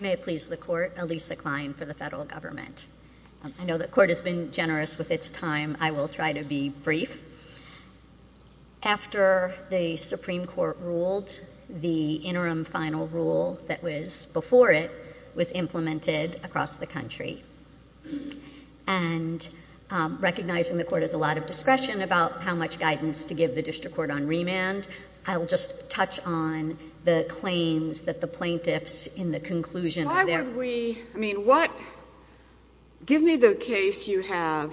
May it please the Court, Alisa Klein for the Federal Government. I know the Court has been generous with its time. I will try to be brief. After the Supreme Court ruled, the interim and recognizing the Court has a lot of discretion about how much guidance to give the District Court on remand, I will just touch on the claims that the plaintiffs in the conclusion of their Why would we, I mean what, give me the case you have,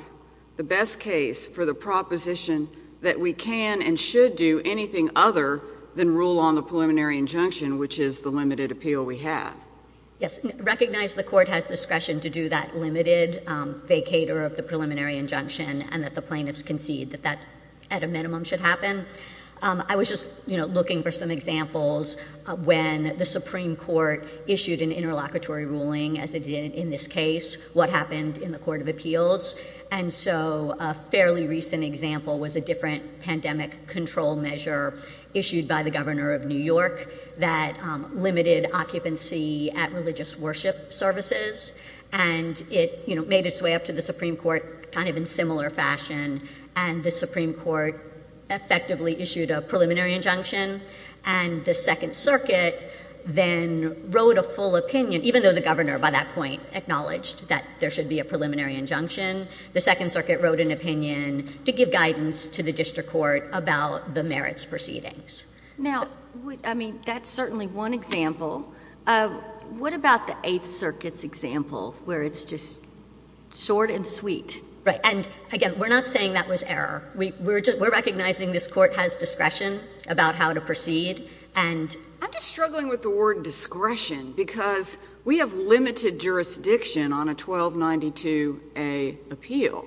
the best case for the proposition that we can and should do anything other than rule on the preliminary injunction which is the limited appeal we have. Yes, recognize the Court has discretion to do that limited vacater of the preliminary injunction and that the plaintiffs concede that that at a minimum should happen. I was just looking for some examples when the Supreme Court issued an interlocutory ruling as it did in this case, what happened in the Court of Appeals, and so a fairly recent example was a different pandemic control measure issued by the Governor of New York that limited occupancy at religious worship services and it, you know, made its way up to the Supreme Court kind of in similar fashion and the Supreme Court effectively issued a preliminary injunction and the Second Circuit then wrote a full opinion, even though the Governor by that point acknowledged that there should be a preliminary injunction, the Second Circuit wrote an opinion to give guidance to the District Court about the merits proceedings. Now, I mean, that's certainly one example. What about the Eighth Circuit's example where it's just short and sweet? Right, and again, we're not saying that was error. We're recognizing this Court has discretion about how to proceed and I'm just struggling with the word discretion because we have limited jurisdiction on a 1292A appeal,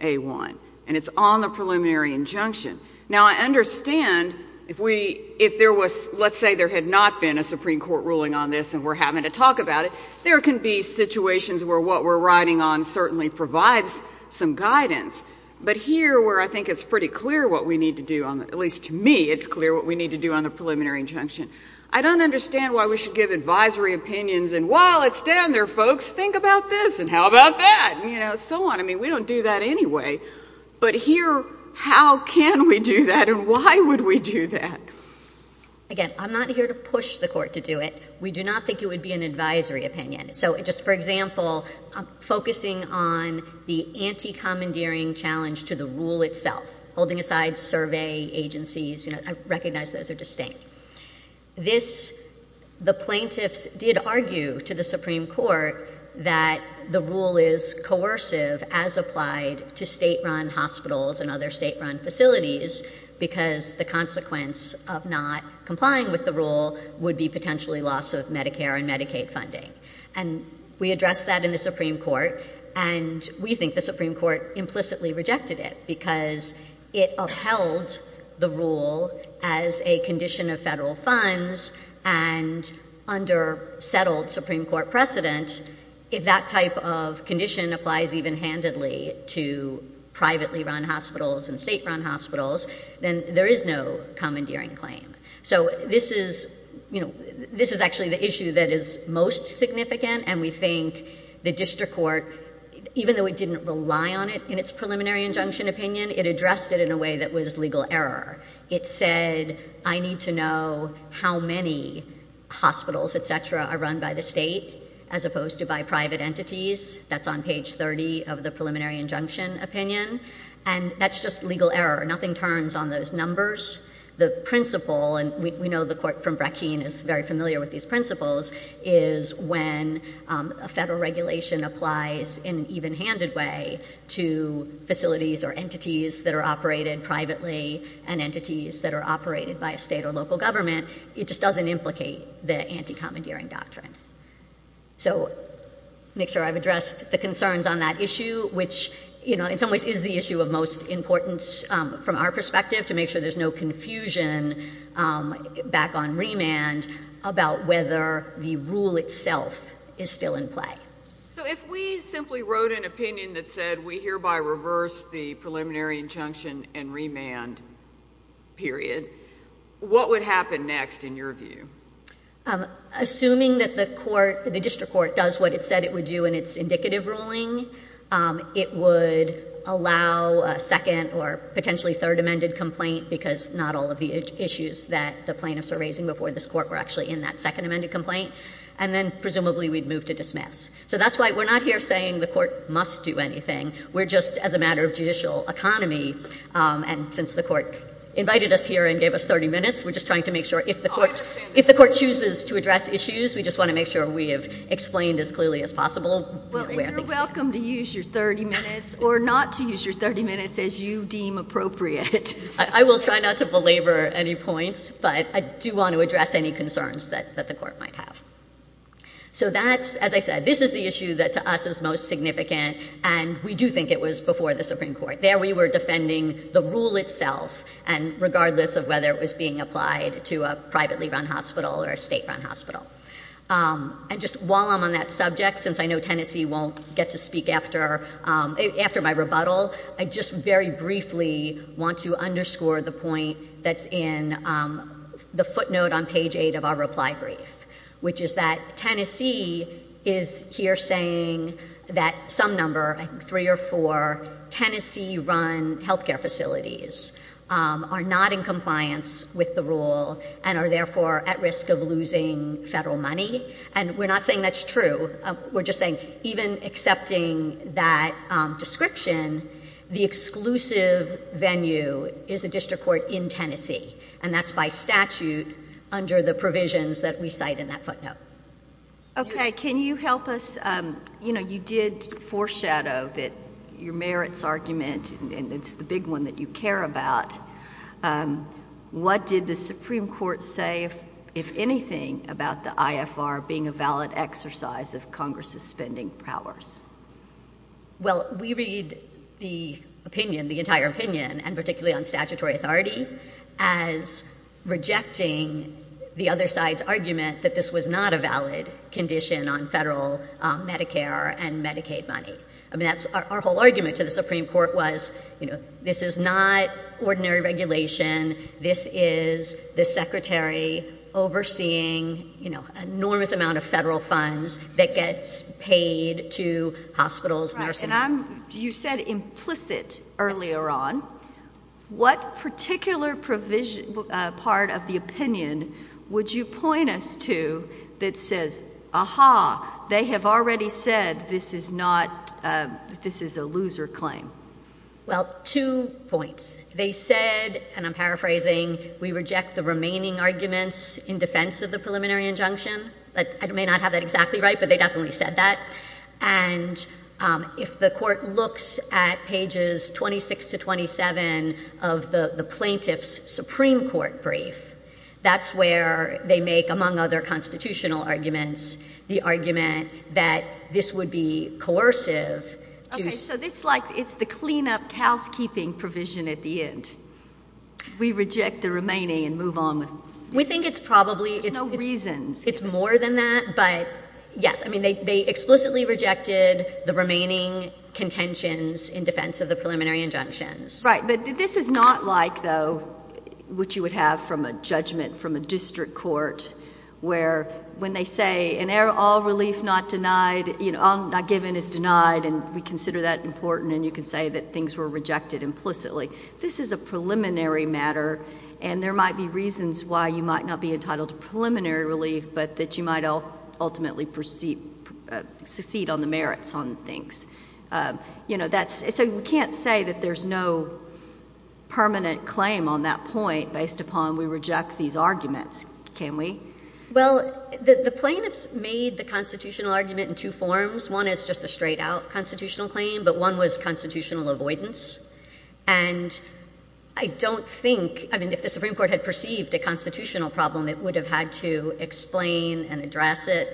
A1, and it's on the preliminary injunction. Now, I understand if we, if there was, let's say there had not been a Supreme Court ruling on this and we're having to talk about it, there can be situations where what we're writing on certainly provides some guidance, but here where I think it's pretty clear what we need to do on, at least to me, it's clear what we need to do on the preliminary injunction. I don't understand why we should give advisory opinions and while it's down there, folks, think about this and how about that and, you know, so on. I mean, we don't do that anyway, but here how can we do that and why would we do that? Again, I'm not here to push the Court to do it. We do not think it would be an advisory opinion. So just for example, focusing on the anti-commandeering challenge to the rule itself, holding aside survey agencies, you know, I recognize those are distinct. This, the plaintiffs did argue to the Supreme Court that the rule is coercive as applied to state-run hospitals and other state-run facilities because the consequence of not complying with the rule would be potentially loss of Medicare and Medicaid funding and we addressed that in the Supreme Court and we think the Supreme Court implicitly rejected it because it upheld the rule as a condition of federal funds and under settled Supreme Court precedent, if that type of condition applies even handedly to privately-run hospitals and state-run hospitals, then there is no commandeering claim. So this is, you know, this is actually the issue that is most significant and we think the District Court, even though it didn't rely on it in its preliminary injunction opinion, it addressed it in a way that was legal error. It said, I need to know how many hospitals, et cetera, are run by the state as opposed to by private entities. That's on page 30 of the preliminary injunction opinion and that's just legal error. Nothing turns on those numbers. The principle, and we know the Court from Brackeen is very familiar with these principles, is when a federal regulation applies in an even-handed way to facilities or entities that are operated privately and entities that are operated by a state or local government, it just doesn't implicate the anti-commandeering doctrine. So make sure I've addressed the concerns on that issue, which in some ways is the issue of most importance from our perspective to make sure there's no confusion back on remand about whether the rule itself is still in play. So if we simply wrote an opinion that said we hereby reverse the preliminary injunction and remand period, what would happen next in your view? Assuming that the court, the District Court does what it said it would do in its indicative ruling, it would allow a second or potentially third amended complaint because not all of the issues that the plaintiffs are raising before this Court were actually in that second amended complaint, and then presumably we'd move to dismiss. So that's why we're not here saying the Court must do anything. We're just, as a matter of judicial economy, and since the Court invited us here and gave us 30 minutes, we're just trying to make sure if the Court chooses to address issues, we just want to make sure we have explained as clearly as possible where things stand. Well, you're welcome to use your 30 minutes or not to use your 30 minutes as you deem appropriate. I will try not to belabor any points, but I do want to address any concerns that the Court might have. So that's, as I said, this is the issue that to us is most significant, and we do think it was before the Supreme Court. There we were defending the rule itself, and regardless of whether it was being applied to a privately run hospital or a state run hospital. And just while I'm on that subject, since I know Tennessee won't get to speak after my rebuttal, I just very briefly want to underscore the point that's in the footnote on page 8 of our reply brief, which is that Tennessee is here saying that some number, I think three or four, Tennessee run healthcare facilities are not in compliance with the rule and are therefore at risk of losing federal money. And we're not saying that's true. We're just saying even accepting that description, the exclusive venue is a district court in Tennessee, and that's by statute under the provisions that we cite in that footnote. Okay. Can you help us? You know, you did foreshadow that your merits argument, and it's the big one that you care about, what did the Supreme Court say, if anything, about the IFR? Being a valid exercise of Congress's spending powers? Well, we read the opinion, the entire opinion, and particularly on statutory authority, as rejecting the other side's argument that this was not a valid condition on federal Medicare and Medicaid money. I mean, that's our whole argument to the Supreme Court was, you know, this is not ordinary regulation. This is the secretary overseeing, you know, enormous amounts of federal funds that gets paid to hospitals, nursing homes. You said implicit earlier on. What particular provision, part of the opinion would you point us to that says, aha, they have already said this is not, this is a loser claim? Well, two points. They said, and I'm paraphrasing, we reject the remaining arguments in defense of the preliminary injunction. I may not have that exactly right, but they definitely said that. And if the court looks at pages 26 to 27 of the plaintiff's Supreme Court brief, that's where they make, among other constitutional arguments, the argument that this would be coercive to... Okay, so this, like, it's the cleanup housekeeping provision at the end. We reject the remaining and move on with... We think it's probably... There's no reasons. It's more than that, but yes. I mean, they explicitly rejected the remaining contentions in defense of the preliminary injunctions. Right, but this is not like, though, what you would have from a judgment from a district court where when they say, and all relief not denied, you know, all not given is denied, and we consider that important, and you can say that things were rejected implicitly. This is a preliminary matter, and there might be reasons why you might not be entitled to preliminary relief, but that you might ultimately succeed on the merits on things. You know, that's... So you can't say that there's no permanent claim on that point based upon we reject these arguments, can we? Well, the plaintiffs made the constitutional argument in two forms. One is just a straight-out constitutional claim, but one was constitutional avoidance, and I don't think... I mean, if the Supreme Court had perceived a constitutional problem, it would have had to explain and address it.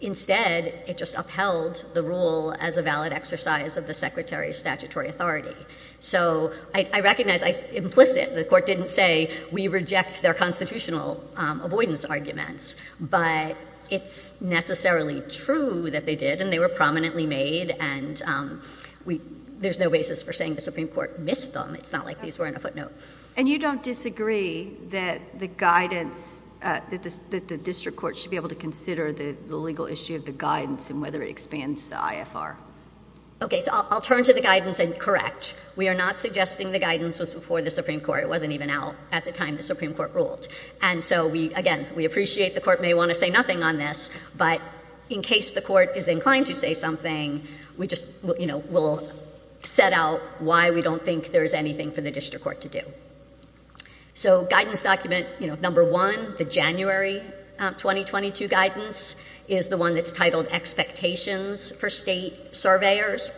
Instead, it just upheld the rule as a valid exercise of the Secretary's statutory authority. So I recognize implicit. The court didn't say we reject their constitutional avoidance arguments, but it's necessarily true that they did, and they were prominently made, and there's no basis for saying the Supreme Court missed them. It's not like these were in a footnote. And you don't disagree that the guidance, that the district court should be able to consider the legal issue of the guidance and whether it expands the IFR? Okay, so I'll turn to the guidance and correct. We are not suggesting the guidance was before the Supreme Court. It wasn't even out at the time the Supreme Court ruled. And so again, we appreciate the court may want to say nothing on this, but in case the court is inclined to say something, we'll set out why we don't think there's anything for the district court to do. So guidance document number one, the January 2022 guidance, is the one that's titled Expectations for State Surveyors.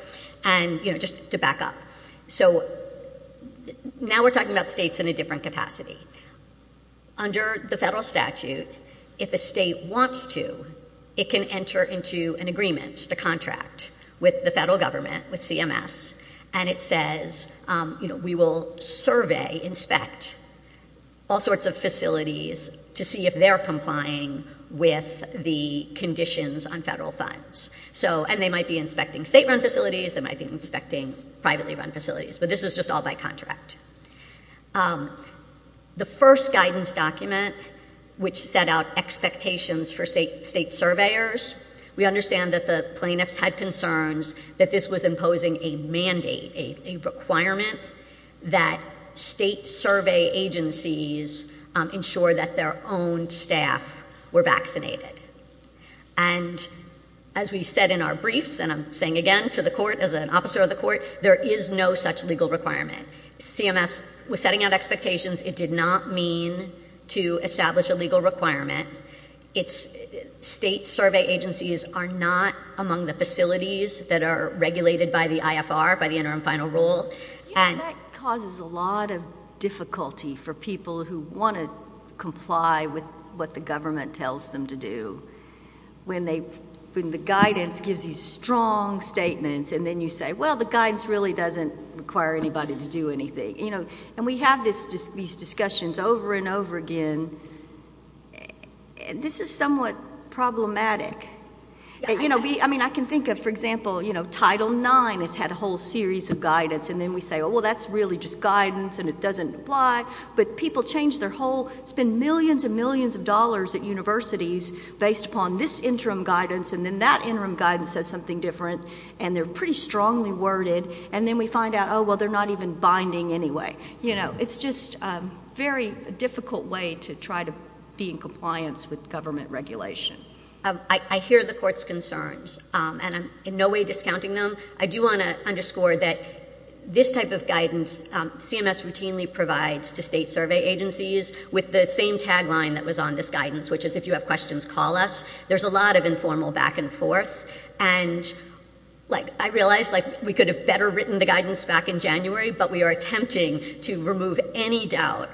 And, you know, just to back up, so now we're talking about states in a different capacity. Under the federal statute, if a state wants to, it can enter into an agreement, just a contract, with the federal government, with CMS, and it says, you know, we will survey, inspect all sorts of facilities to see if they're complying with the conditions on federal funds. So, and they might be inspecting state-run facilities, they might be inspecting privately-run facilities, but this is just all by contract. The first guidance document, which set out expectations for state surveyors, we understand that the plaintiffs had concerns that this was imposing a mandate, a requirement that state survey agencies ensure that their own staff were vaccinated. And, as we said in our briefs, and I'm saying again to the court, as an officer of the court, there is no such legal requirement. CMS was setting out expectations. It did not mean to establish a legal requirement. State survey agencies are not among the facilities that are regulated by the IFR, by the Interim Court of Appeals. So there's a lot of difficulty for people who want to comply with what the government tells them to do, when the guidance gives you strong statements, and then you say, well, the guidance really doesn't require anybody to do anything. And we have these discussions over and over again, and this is somewhat problematic. I mean, I can think of, for example, Title IX has had a whole series of guidance, and then we say, oh, well, that's really just guidance, and it doesn't apply. But people change their whole, spend millions and millions of dollars at universities based upon this interim guidance, and then that interim guidance says something different, and they're pretty strongly worded, and then we find out, oh, well, they're not even binding anyway. You know, it's just a very difficult way to try to be in compliance with government regulation. I hear the court's concerns, and I'm in no way discounting them. I do want to underscore that this type of guidance, CMS routinely provides to state survey agencies with the same tagline that was on this guidance, which is, if you have questions, call us. There's a lot of informal back and forth, and, like, I realize, like, we could have better written the guidance back in January, but we are attempting to remove any doubt.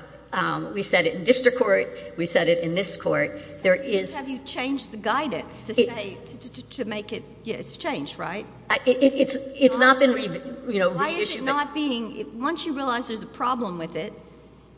We said it in district court. We said it in this court. There is... Have you changed the guidance to say, to make it, you know, it's changed, right? It's not been, you know, reissued. Why is it not being, once you realize there's a problem with it,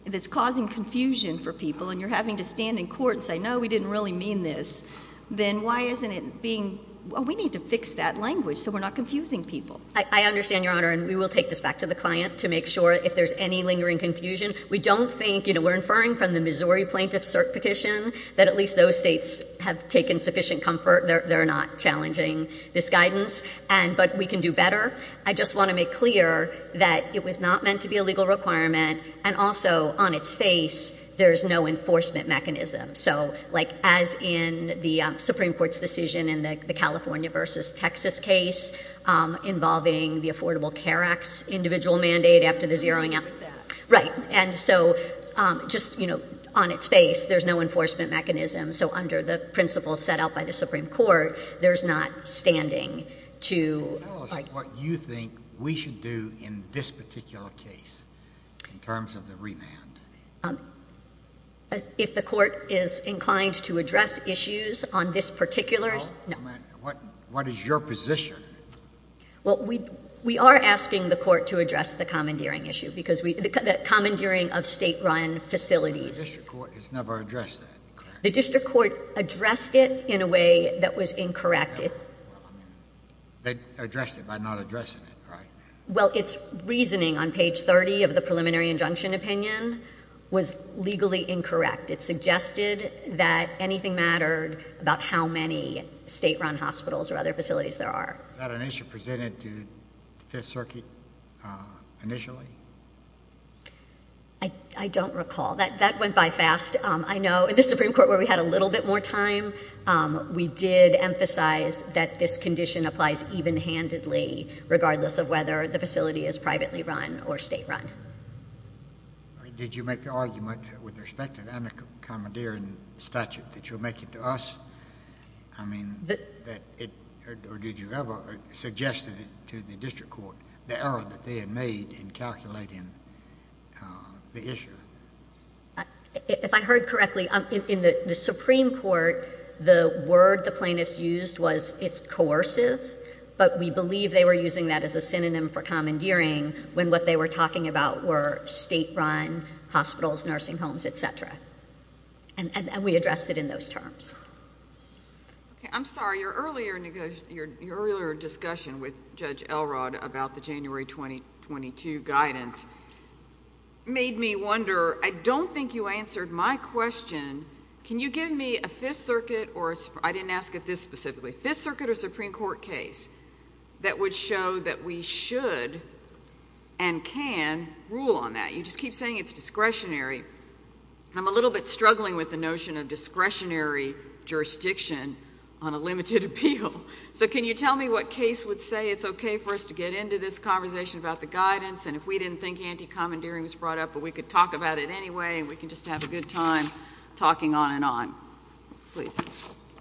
that's causing confusion for people, and you're having to stand in court and say, no, we didn't really mean this, then why isn't it being, oh, we need to fix that language so we're not confusing people? I understand, Your Honor, and we will take this back to the client to make sure if there's any lingering confusion. We don't think, you know, we're inferring from the Missouri plaintiff's cert petition that at least those states have taken sufficient comfort, they're not challenging this guidance, but we can do better. I just want to make clear that it was not meant to be a legal requirement, and also, on its face, there's no enforcement mechanism. So, like, as in the Supreme Court's decision in the California versus Texas case involving the Affordable Care Act's individual mandate after the zeroing out... Like that. Right. And so, just, you know, on its face, there's no enforcement mechanism, so under the principles set out by the Supreme Court, there's not standing to... Tell us what you think we should do in this particular case in terms of the remand. If the court is inclined to address issues on this particular... No. What is your position? Well, we are asking the court to address the commandeering issue, because we, the commandeering of state-run facilities... The district court has never addressed that. The district court addressed it in a way that was incorrect. They addressed it by not addressing it, right? Well, its reasoning on page 30 of the preliminary injunction opinion was legally incorrect. It suggested that anything mattered about how many state-run hospitals or other facilities there are. Was that an issue presented to the Fifth Circuit initially? I don't recall. That went by fast. I know in the Supreme Court, where we had a little bit more time, we did emphasize that this condition applies even-handedly, regardless of whether the facility is privately run or state-run. Did you make the argument with respect to the under-commandeering statute that you're making to us? I mean, or did you ever suggest to the district court the error that they made in calculating the issue? If I heard correctly, in the Supreme Court, the word the plaintiffs used was it's coercive, but we believe they were using that as a synonym for commandeering, when what they were talking about were state-run hospitals, nursing homes, et cetera. We addressed it in those terms. I'm sorry. Your earlier discussion with Judge Elrod about the January 2022 guidance made me wonder. I don't think you answered my question. Can you give me a Fifth Circuit or—I didn't ask it this specifically—Fifth Circuit or Supreme Court case that would show that we should and can rule on that? You just keep saying it's discretionary. I'm a little bit of a jurisdiction on a limited appeal. So can you tell me what case would say it's okay for us to get into this conversation about the guidance, and if we didn't think anti-commandeering was brought up, but we could talk about it anyway, and we can just have a good time talking on and on? Please.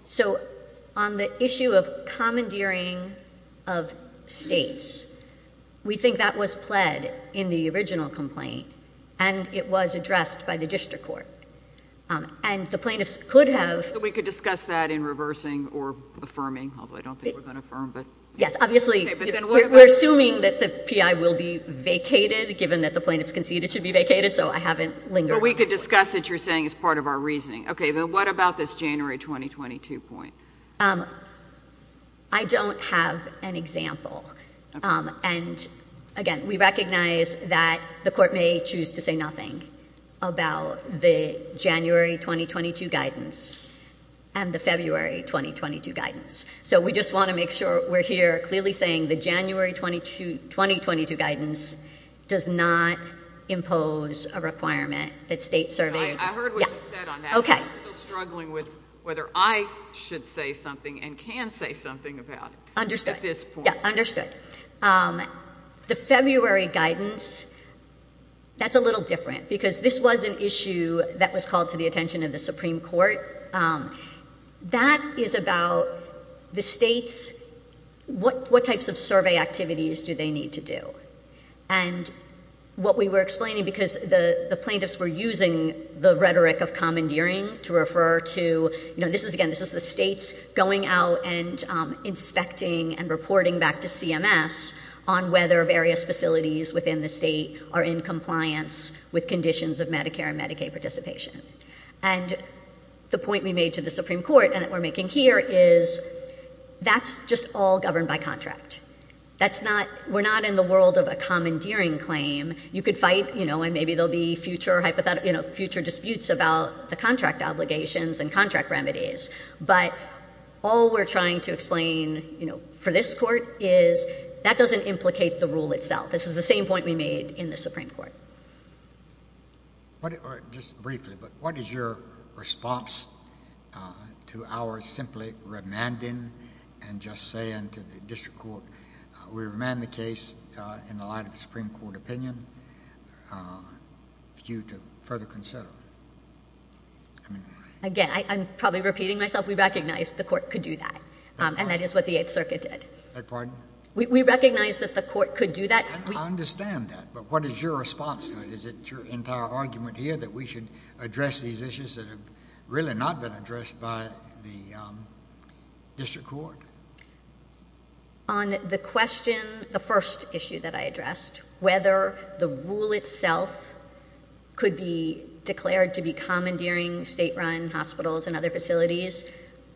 So on the issue of commandeering of states, we think that was pled in the original complaint, and it was addressed by the district court. And the plaintiffs could have— So we could discuss that in reversing or affirming, although I don't think we're going to affirm, but— Yes. Obviously, we're assuming that the P.I. will be vacated, given that the plaintiffs conceded it should be vacated, so I haven't lingered. We could discuss it, you're saying, as part of our reasoning. Okay. But what about this January 2022 point? I don't have an example. And again, we recognize that the court may choose to say nothing about the January 2022 guidance and the February 2022 guidance. So we just want to make sure we're here clearly saying the January 2022 guidance does not impose a requirement that state survey— I heard what you said on that. Okay. But I'm still struggling with whether I should say something and can say something about it at this point. Understood. Yeah, understood. The February guidance, that's a little different because this was an issue that was called to the attention of the Supreme Court. That is about the states, what types of survey activities do they need to do? And what we were explaining because the plaintiffs were using the rhetoric of commandeering to refer to, you know, this is again, this is the states going out and inspecting and reporting back to CMS on whether various facilities within the state are in compliance with conditions of Medicare and Medicaid participation. And the point we made to the Supreme Court and that we're making here is that's just all governed by contract. That's not, we're not in the world of a commandeering claim. You could fight, you know, and maybe there'll be future hypothetical, you know, future disputes about the contract obligations and contract remedies. But all we're trying to explain, you know, for this court is that doesn't implicate the rule itself. This is the same point we made in the Supreme Court. Just briefly, but what is your response to our simply remanding and just saying to the district court, we remand the case in the light of the Supreme Court opinion for you to further consider? Again, I'm probably repeating myself. We recognize the court could do that. And that is what the Eighth Circuit did. Pardon? We recognize that the court could do that. I understand that. But what is your response to it? Is it your entire argument here that we should address these issues that have really not been addressed by the district court? On the question, the first issue that I addressed, whether the rule itself could be declared to be commandeering state-run hospitals and other facilities,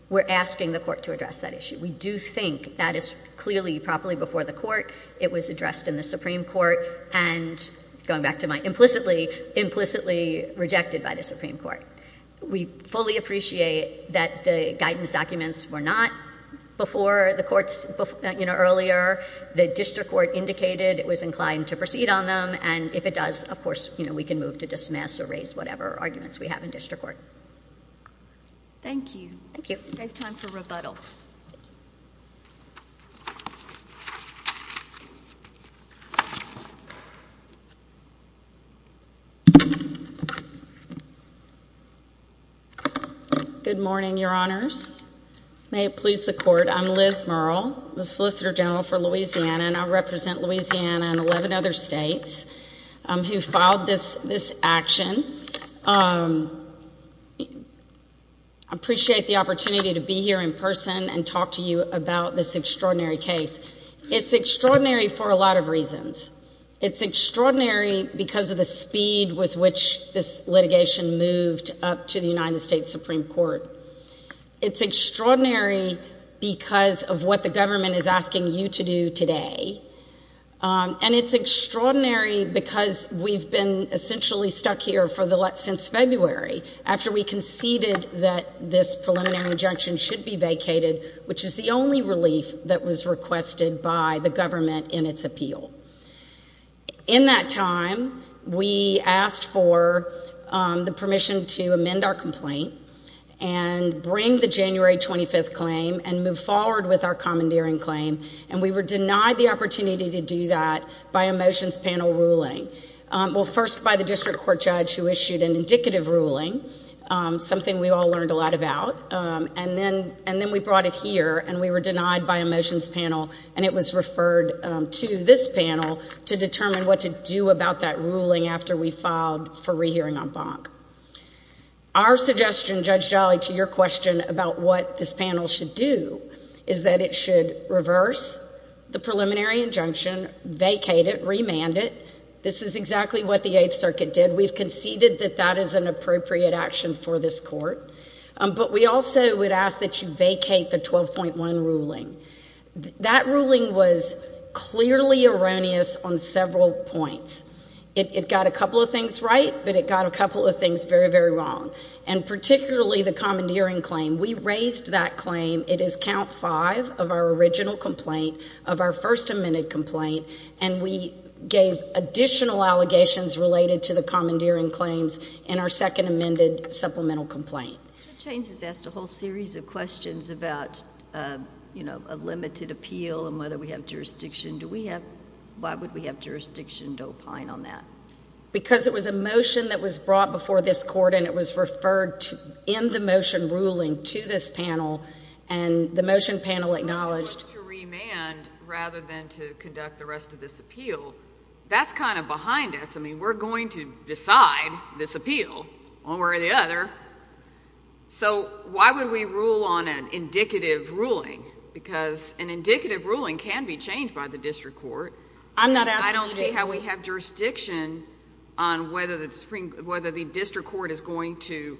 we're asking the court to address that issue. We do think that is clearly properly before the court. It was addressed in the Supreme Court and going back to my implicitly, implicitly rejected by the Supreme Court. We fully appreciate that the guidance documents were not before the courts earlier. The district court indicated it was inclined to proceed on them. And if it does, of course, you know, move to dismiss or raise whatever arguments we have in district court. Thank you. Thank you. Save time for rebuttal. Good morning, Your Honors. May it please the court, I'm Liz Murrell, the Solicitor General for Louisiana, and I represent Louisiana and 11 other states who filed this action. I appreciate the opportunity to be here in person and talk to you about this extraordinary case. It's extraordinary for a lot of reasons. It's extraordinary because of the speed with which this litigation moved up to the United States Supreme Court. It's extraordinary because of what the government is asking you to do today. And it's extraordinary because we've been essentially stuck here for the last, since February, after we conceded that this preliminary injunction should be vacated, which is the only relief that was requested by the government in its appeal. In that time, we asked for the permission to amend our complaint and bring the January 25th claim and move forward with our commandeering claim, and we were denied the opportunity to do that by a motions panel ruling. Well, first by the district court judge who issued an indicative ruling, something we all learned a lot about, and then we brought it here, and we were denied by a motions panel, and it was referred to this panel to determine what to do about that ruling after we filed for rehearing en banc. Our suggestion, Judge Jolly, to your question about what this panel should do is that it should reverse the preliminary injunction, vacate it, remand it. This is exactly what the Eighth Circuit did. We've conceded that that is an appropriate action for this court, but we also would ask that you vacate the 12.1 ruling. That ruling was clearly erroneous on several points. It got a couple of things right, but it got a couple of things very, very wrong, and particularly the commandeering claim. We raised that claim. It is count five of our original complaint, of our first amended complaint, and we gave additional allegations related to the commandeering claims in our second amended supplemental complaint. Judge Haynes has asked a whole series of questions about, you know, a limited appeal and whether we have jurisdiction. Why would we have jurisdiction to opine on that? Because it was a motion that was brought before this court, and it was referred in the motion ruling to this panel, and the motion panel acknowledged... Well, they wanted to remand rather than to conduct the rest of this appeal. That's kind of behind us. I mean, we're going to decide this appeal. One way or the other. So why would we rule on an indicative ruling? Because an indicative ruling can be changed by the district court. I'm not asking you to... I don't see how we have jurisdiction on whether the district court is going to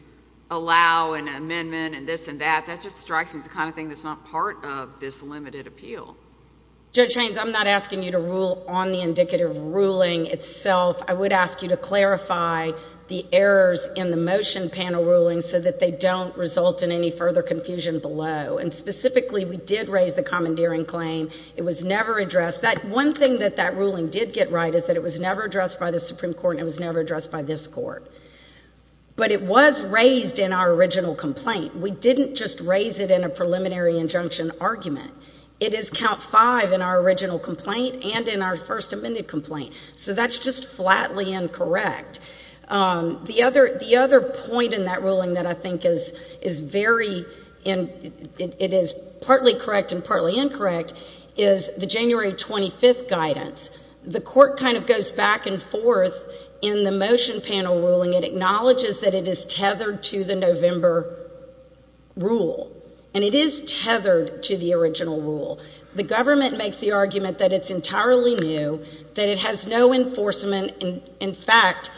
allow an amendment and this and that. That just strikes me as the kind of thing that's not part of this limited appeal. Judge Haynes, I'm not asking you to rule on the indicative ruling itself. I would ask you to clarify the errors in the motion panel ruling so that they don't result in any further confusion below. And specifically, we did raise the commandeering claim. It was never addressed. One thing that that ruling did get right is that it was never addressed by the Supreme Court and it was never addressed by this court. But it was raised in our original complaint. We didn't just raise it in a preliminary injunction argument. It is count five in our The other point in that ruling that I think is very... it is partly correct and partly incorrect is the January 25th guidance. The court kind of goes back and forth in the motion panel ruling. It acknowledges that it is tethered to the November rule. And it is tethered to the original rule. The government makes the argument that it's entirely new, that it has no enforcement. In fact,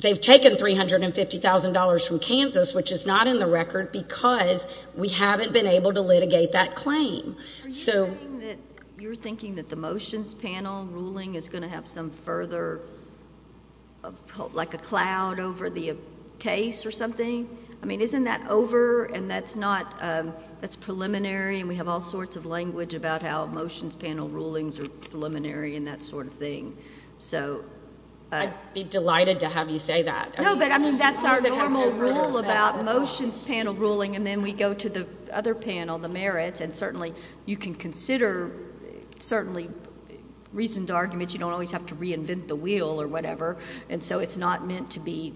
they've taken $350,000 from Kansas, which is not in the record because we haven't been able to litigate that claim. Are you saying that... you're thinking that the motions panel ruling is going to have some further... like a cloud over the case or something? I mean, isn't that over and that's not... that's preliminary and we have all sorts of language about how So... I'd be delighted to have you say that. No, but I mean, that's our normal rule about motions panel ruling. And then we go to the other panel, the merits, and certainly you can consider, certainly, reasoned arguments. You don't always have to reinvent the wheel or whatever. And so it's not meant to be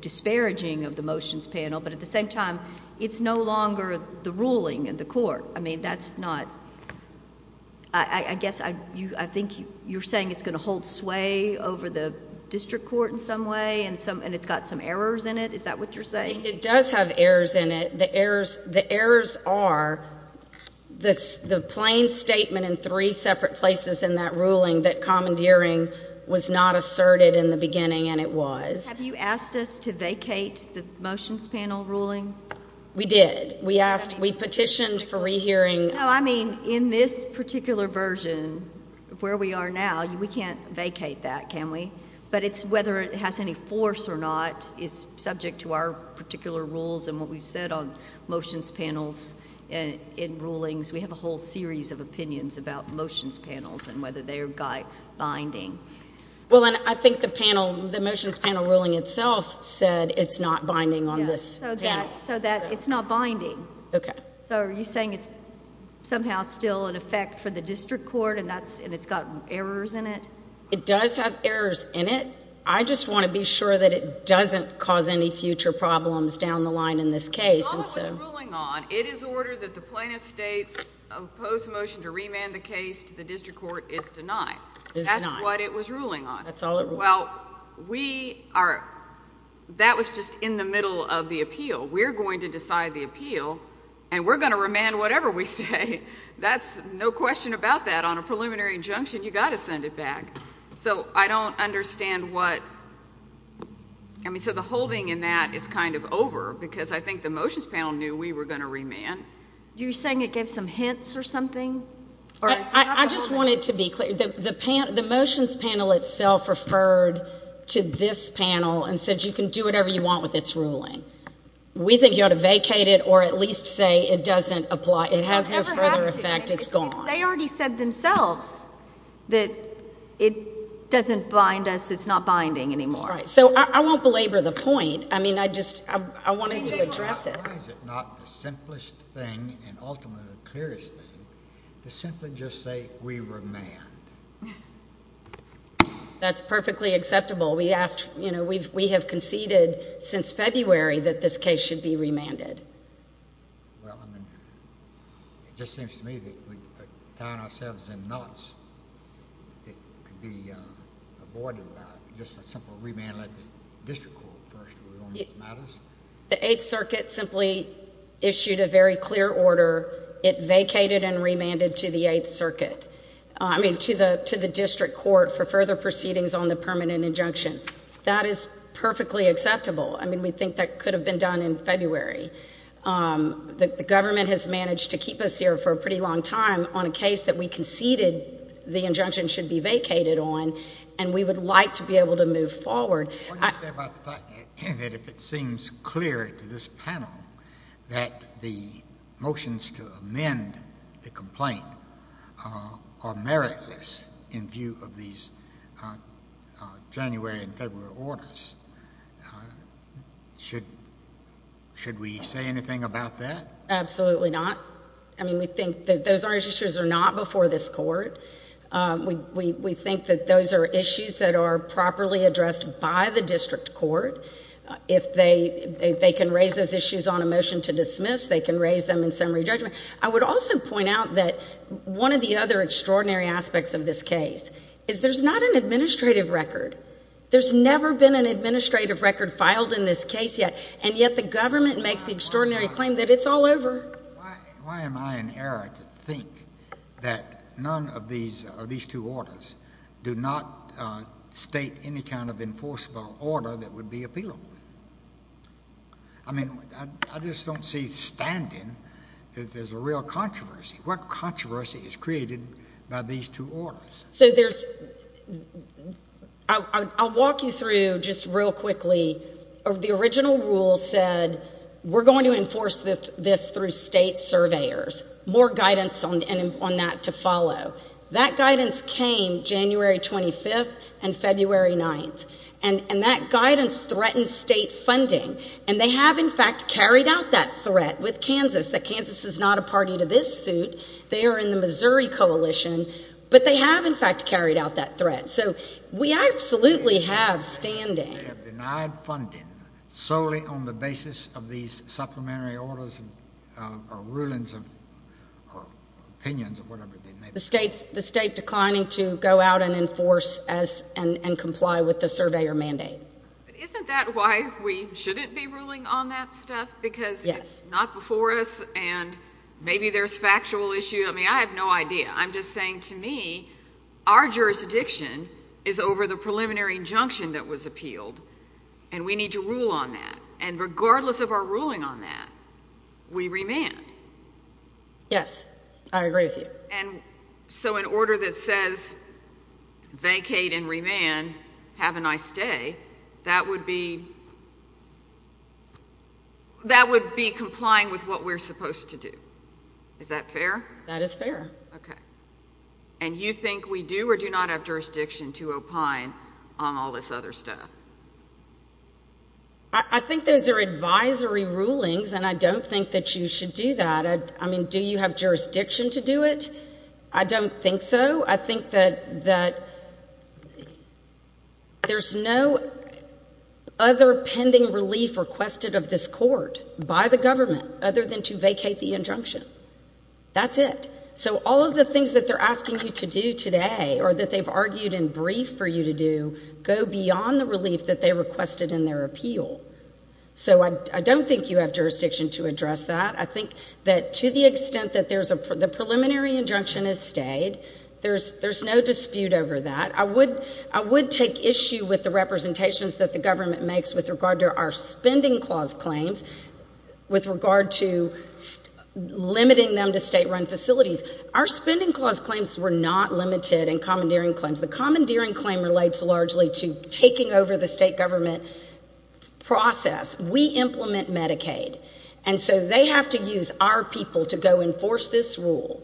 disparaging of the motions panel. But at the same time, it's no longer the ruling in the court. I mean, that's not... I guess I think you're saying it's going to hold sway over the district court in some way and it's got some errors in it. Is that what you're saying? I think it does have errors in it. The errors are the plain statement in three separate places in that ruling that commandeering was not asserted in the beginning and it was. Have you asked us to vacate the motions panel ruling? We did. We asked... we petitioned for rehearing... No, I mean, in this particular version, where we are now, we can't vacate that, can we? But it's whether it has any force or not is subject to our particular rules and what we've said on motions panels and in rulings. We have a whole series of opinions about motions panels and whether they are binding. Well, and I think the motions panel ruling itself said it's not binding on this panel. So that it's not binding. Okay. So are you saying it's somehow still in effect for the district court and it's got errors in it? It does have errors in it. I just want to be sure that it doesn't cause any future problems down the line in this case. That's all it was ruling on. It is ordered that the plaintiff's state's opposed motion to remand the case to the district court is denied. That's what it was ruling on. That's all it ruled on. Well, we are, that was just in the middle of the appeal. We're going to decide the appeal and we're going to remand whatever we say. That's no question about that. On a preliminary injunction, you got to send it back. So I don't understand what, I mean, so the holding in that is kind of over because I think the motions panel knew we were going to remand. You're saying it gave some hints or something? I just want it to be clear. The motions panel itself referred to this panel and said you can do whatever you want with its ruling. We think you ought to vacate it or at least say it doesn't apply. It has no further effect. It's gone. They already said themselves that it doesn't bind us. It's not binding anymore. So I won't belabor the point. I mean, I just, I wanted to address it. Why is it not the simplest thing and ultimately the clearest thing to simply just say we remand? That's perfectly acceptable. We asked, you know, we've, we have conceded since February that this case should be remanded. Well, I mean, it just seems to me that we're tying ourselves in knots. It could be avoided without just a simple remand. Let the district court first rule on these matters. The Eighth Circuit simply issued a very clear order. It vacated and remanded to the Eighth Circuit. I mean, to the, to the district court for further proceedings on the permanent injunction. That is perfectly acceptable. I mean, we think that could have been done in February. The government has managed to keep us here for a pretty long time on a case that we conceded the injunction should be vacated on and we would like to be able to move forward. What do you say about the fact that if it seems clear to this panel that the motions to amend the complaint are meritless in view of these January and February orders, should, should we say anything about that? Absolutely not. I mean, we think that those are issues that are not before this court. We, we, we think that those are issues that are properly addressed by the district court. If they, they, they can raise those issues on a motion to dismiss, they can raise them in summary judgment. I would also point out that one of the other extraordinary aspects of this case is there's not an administrative record. There's never been an administrative record filed in this case yet and yet the government makes the extraordinary claim that it's all over. Why am I in error to think that none of these, of these two orders do not state any kind of enforceable order that would be appealable? I mean, I just don't see standing that there's a real controversy. What controversy is created by these two orders? So there's, I'll walk you through just real quickly. The original rule said we're going to enforce this through state surveyors. More guidance on, on that to follow. That guidance came January 25th and February 9th. And, and that guidance threatened state funding. And they have in fact carried out that threat with Kansas, that Kansas is not a party to this suit. They are in the Missouri coalition. But they have in fact carried out that threat. So we absolutely have standing. They have denied funding solely on the basis of these supplementary orders or rulings or opinions or whatever they may be. The state's, the state declining to go out and enforce and comply with the surveyor mandate. But isn't that why we shouldn't be ruling on that stuff? Because it's not before us and maybe there's factual issue. I mean, I have no idea. I'm just saying to me, our jurisdiction is over the preliminary injunction that was appealed and we need to rule on that. And regardless of our ruling on that, we remand. Yes, I agree with you. And so in order that says, vacate and remand, have a nice day, that would be, that would be complying with what we're supposed to do. Is that fair? That is fair. Okay. And you think we do or do not have jurisdiction to opine on all this other stuff? I think those are advisory rulings and I don't think that you should do that. I mean, do you have jurisdiction to do it? I don't think so. I think that there's no other pending relief requested of this court by the government other than to vacate the injunction. That's it. So all of the things that they're asking you to do today or that they've argued in brief for you to do, go beyond the relief that they requested in their appeal. So I don't think you have jurisdiction to address that. I think that to the extent that the preliminary injunction has stayed, there's no dispute over that. I would take issue with the representations that the government makes with regard to our spending clause claims with regard to limiting them to state run facilities. Our spending clause claims were not limited in commandeering claims. The commandeering claim relates largely to taking over the state government process. We implement Medicaid. And so they have to use our people to go enforce this rule.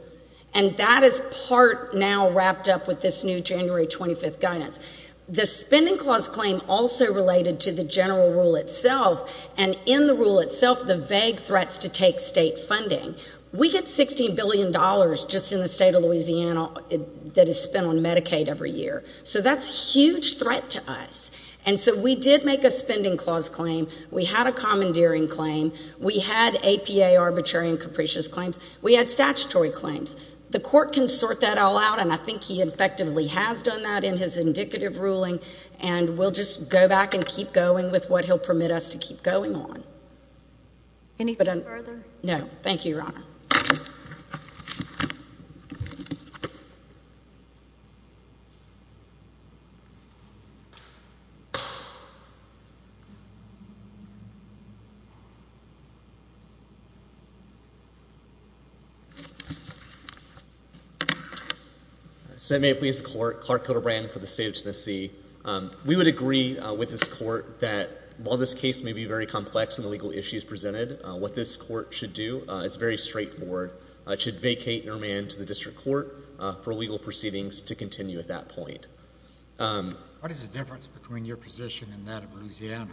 And that is part now wrapped up with this new January 25th guidance. The spending clause claim also related to the general rule itself. And in the rule itself, the vague threats to take state funding. We get $16 billion just in the state of Louisiana that is spent on Medicaid every year. So that's a huge threat to us. And so we did make a spending clause claim. We had a commandeering claim. We had APA arbitrary and capricious claims. We had statutory claims. The court can sort that all out. And I think he effectively has done that in his indicative ruling. And we'll just go back and keep going with what he'll permit us to keep going on. Any further? So may it please the court, Clark Kildabrand for the state of Tennessee. We would agree with this court that while this case may be very complex in the legal issues presented, what this court should do is very straightforward. It should vacate and remand to the district court for legal proceedings to continue at that point. What is the difference between your position and that of Louisiana?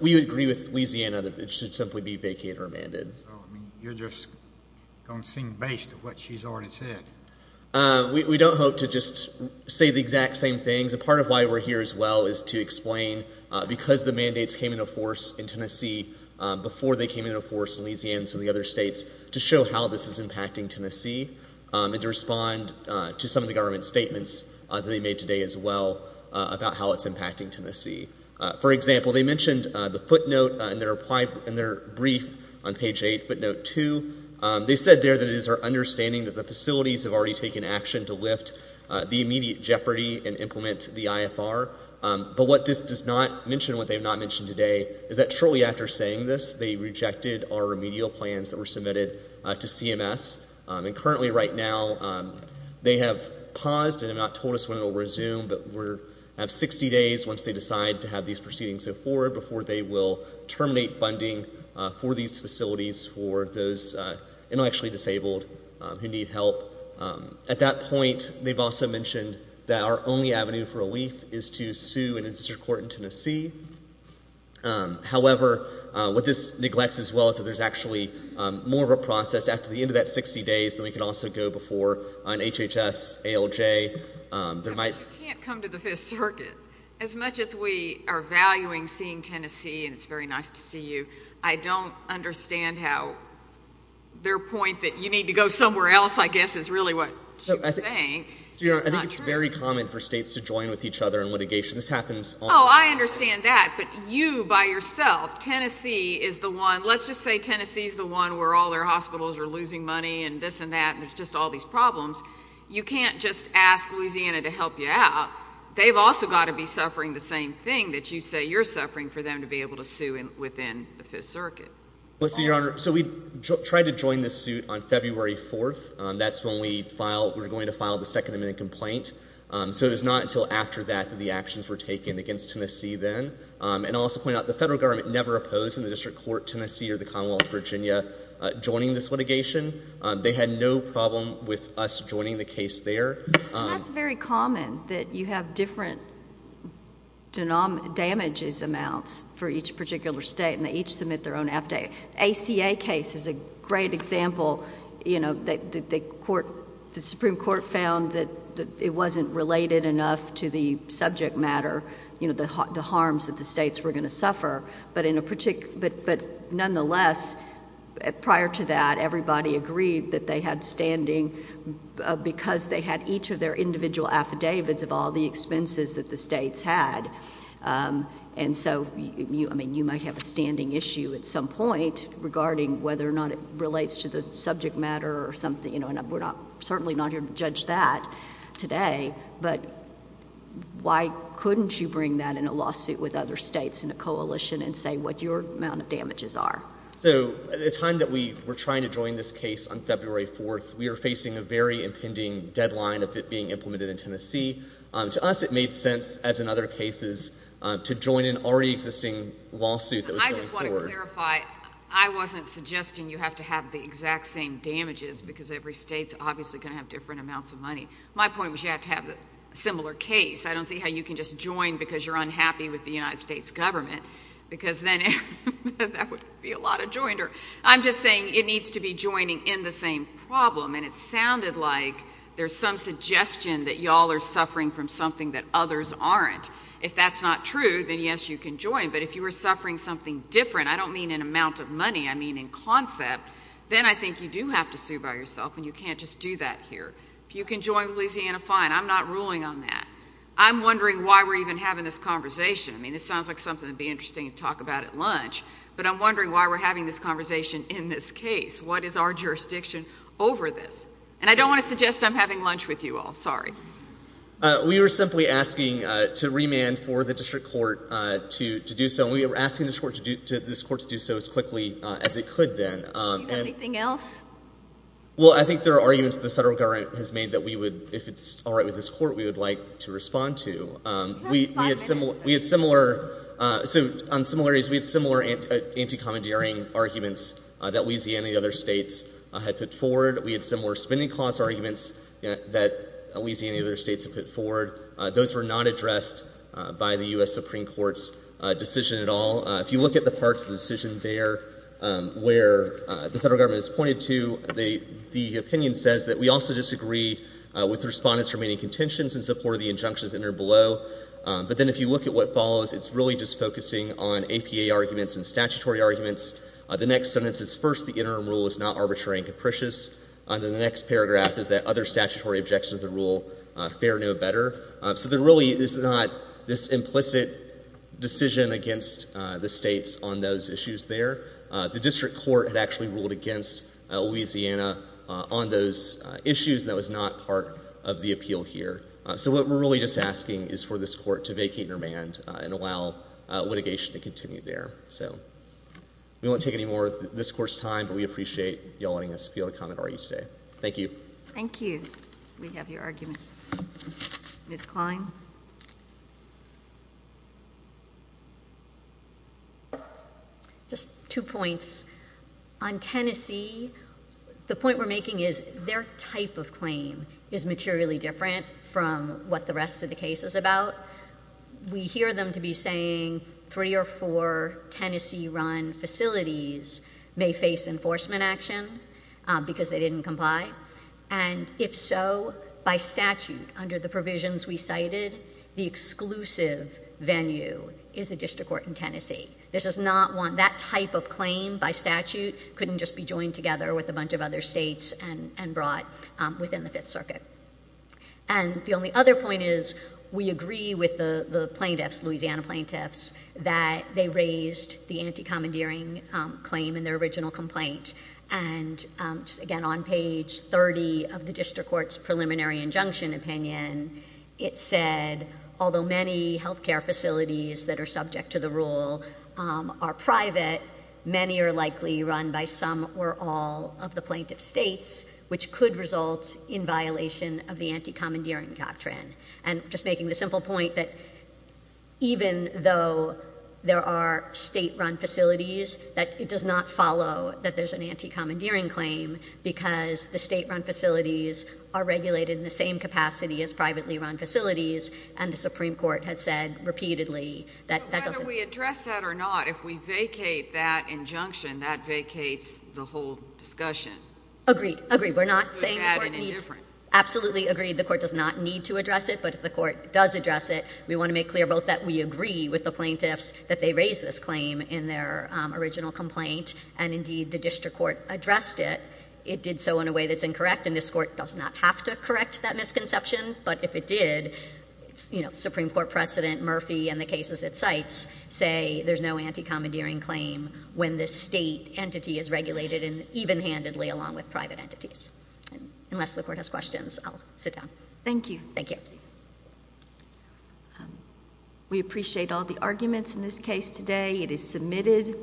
We agree with Louisiana that it should simply be vacated or remanded. So you're just going to sing the bass to what she's already said. We don't hope to just say the exact same things. A part of why we're here as well is to explain, because the mandates came into force in Tennessee before they came into force in Louisiana and some of the other states, to show how this is impacting Tennessee and to respond to some of the government statements that they made today as well about how it's impacting Tennessee. For example, they mentioned the footnote in their brief on page 8, footnote 2. They said there that it is our understanding that the facilities have already taken action to lift the immediate jeopardy and implement the IFR. But what this does not mention and what they have not mentioned today is that shortly after saying this, they rejected our remedial plans that were submitted to CMS. And currently right now, they have paused and have not told us when it will resume, but we have 60 days once they decide to have these proceedings move forward before they will terminate funding for these facilities for those intellectually disabled who need help. At that point, they've also mentioned that our only avenue for relief is to sue an industry court in Tennessee. However, what this neglects as well is that there's actually more of a process after the end of that 60 days than we can also go before an HHS, ALJ. You can't come to the Fifth Circuit. As much as we are valuing seeing Tennessee, and it's you need to go somewhere else, I guess, is really what she was saying. I think it's very common for states to join with each other in litigation. This happens Oh, I understand that, but you by yourself, Tennessee is the one, let's just say Tennessee is the one where all their hospitals are losing money and this and that, and there's just all these problems. You can't just ask Louisiana to help you out. They've also got to be suffering the same thing that you say you're suffering for them to be able to sue within the Fifth Circuit. Listen, Your Honor, so we tried to join this suit on February 4th. That's when we were going to file the Second Amendment complaint. So it was not until after that that the actions were taken against Tennessee then. And I'll also point out the federal government never opposed in the district court Tennessee or the Commonwealth of Virginia joining this litigation. They had no problem with us joining the case there. That's very common that you have different damages amounts for each particular state and they each submit their own affidavit. The ACA case is a great example. The Supreme Court found that it wasn't related enough to the subject matter, the harms that the states were going to suffer. But nonetheless, prior to that, everybody agreed that they had standing because they had each of their individual affidavits of all the expenses that the states had. And so, I mean, you might have a standing issue at some point regarding whether or not it relates to the subject matter or something. We're certainly not here to judge that today. But why couldn't you bring that in a lawsuit with other states in a coalition and say what your amount of damages are? So at the time that we were trying to join this case on February 4th, we were facing a very impending deadline of it being implemented in Tennessee. To us, it made sense, as in other cases, to join an already existing lawsuit that was going forward. I just want to clarify, I wasn't suggesting you have to have the exact same damages because every state's obviously going to have different amounts of money. My point was you have to have a similar case. I don't see how you can just join because you're unhappy with the United States government because then that would be a lot of joinder. I'm just saying it needs to be joining in the same problem. And it sounded like there's some suggestion that you all are suffering from something that others aren't. If that's not true, then yes, you can join. But if you were suffering something different, I don't mean an amount of money, I mean in concept, then I think you do have to sue by yourself and you can't just do that here. If you can join with Louisiana, fine. I'm not ruling on that. I'm wondering why we're even having this conversation. I mean, it sounds like something that would be interesting to talk about at lunch. But I'm wondering why we're having this conversation in this case. What is our jurisdiction over this? And I don't want to suggest I'm having lunch with you all. Sorry. We were simply asking to remand for the district court to do so. And we were asking this court to do so as quickly as it could then. Do you have anything else? Well, I think there are arguments the federal government has made that we would, if it's on similarities, we had similar anti-commandeering arguments that Louisiana and the other states had put forward. We had similar spending clause arguments that Louisiana and the other states had put forward. Those were not addressed by the U.S. Supreme Court's decision at all. If you look at the parts of the decision there where the federal government has pointed to, the opinion says that we also disagree with the respondent's remaining contentions in support of the injunctions entered below. But then if you look at what follows, it's really just focusing on APA arguments and statutory arguments. The next sentence is first, the interim rule is not arbitrary and capricious. And then the next paragraph is that other statutory objections to the rule, fair no better. So there really is not this implicit decision against the states on those issues there. The district court had actually ruled against Louisiana on those issues. That was not part of the appeal here. So what we're really just asking is for this court to vacate and remand and allow litigation to continue there. So we won't take any more of this court's time, but we appreciate y'all letting us feel the commentary today. Thank you. Thank you. We have your argument. Ms. Klein? Just two points. On Tennessee, the point we're making is their type of claim is materially different from what the rest of the case is about. We hear them to be saying three or four Tennessee run facilities may face enforcement action because they didn't comply. And if so, by statute, under the provisions we cited, the exclusive venue is a district court in Tennessee. That type of claim by statute couldn't just be joined together with a bunch of other states and brought within the Fifth Circuit. And the only other point is we agree with the plaintiffs, Louisiana plaintiffs, that they raised the anti-commandeering claim in their original complaint. And again, on page 30 of the district court's preliminary injunction opinion, it said, although many health care facilities that are subject to the rule are private, many are likely run by some or all of the plaintiff's states, which could result in violation of the anti-commandeering doctrine. And just making the simple point that even though there are state-run facilities, that it does not follow that there's an anti-commandeering claim because the state-run facilities are regulated in the same capacity as privately-run facilities, and the Supreme Court has said repeatedly that that doesn't... So whether we address that or not, if we vacate that injunction, that vacates the whole discussion. Agreed. Agreed. We're not saying the court needs... Could we add an indifferent? Absolutely agreed. The court does not need to address it, but if the court does address it, we want to make clear both that we agree with the plaintiffs that they raised this claim in their original complaint, and indeed the district court addressed it. It did so in a way that's incorrect, and this court does not have to correct that misconception. But if it did, you know, Supreme Court precedent, Murphy, and the cases it cites say there's no anti-commandeering claim when the state entity is regulated even-handedly along with private entities. Unless the court has questions, I'll sit down. Thank you. Thank you. Thank you. We appreciate all the arguments in this case today. It is submitted.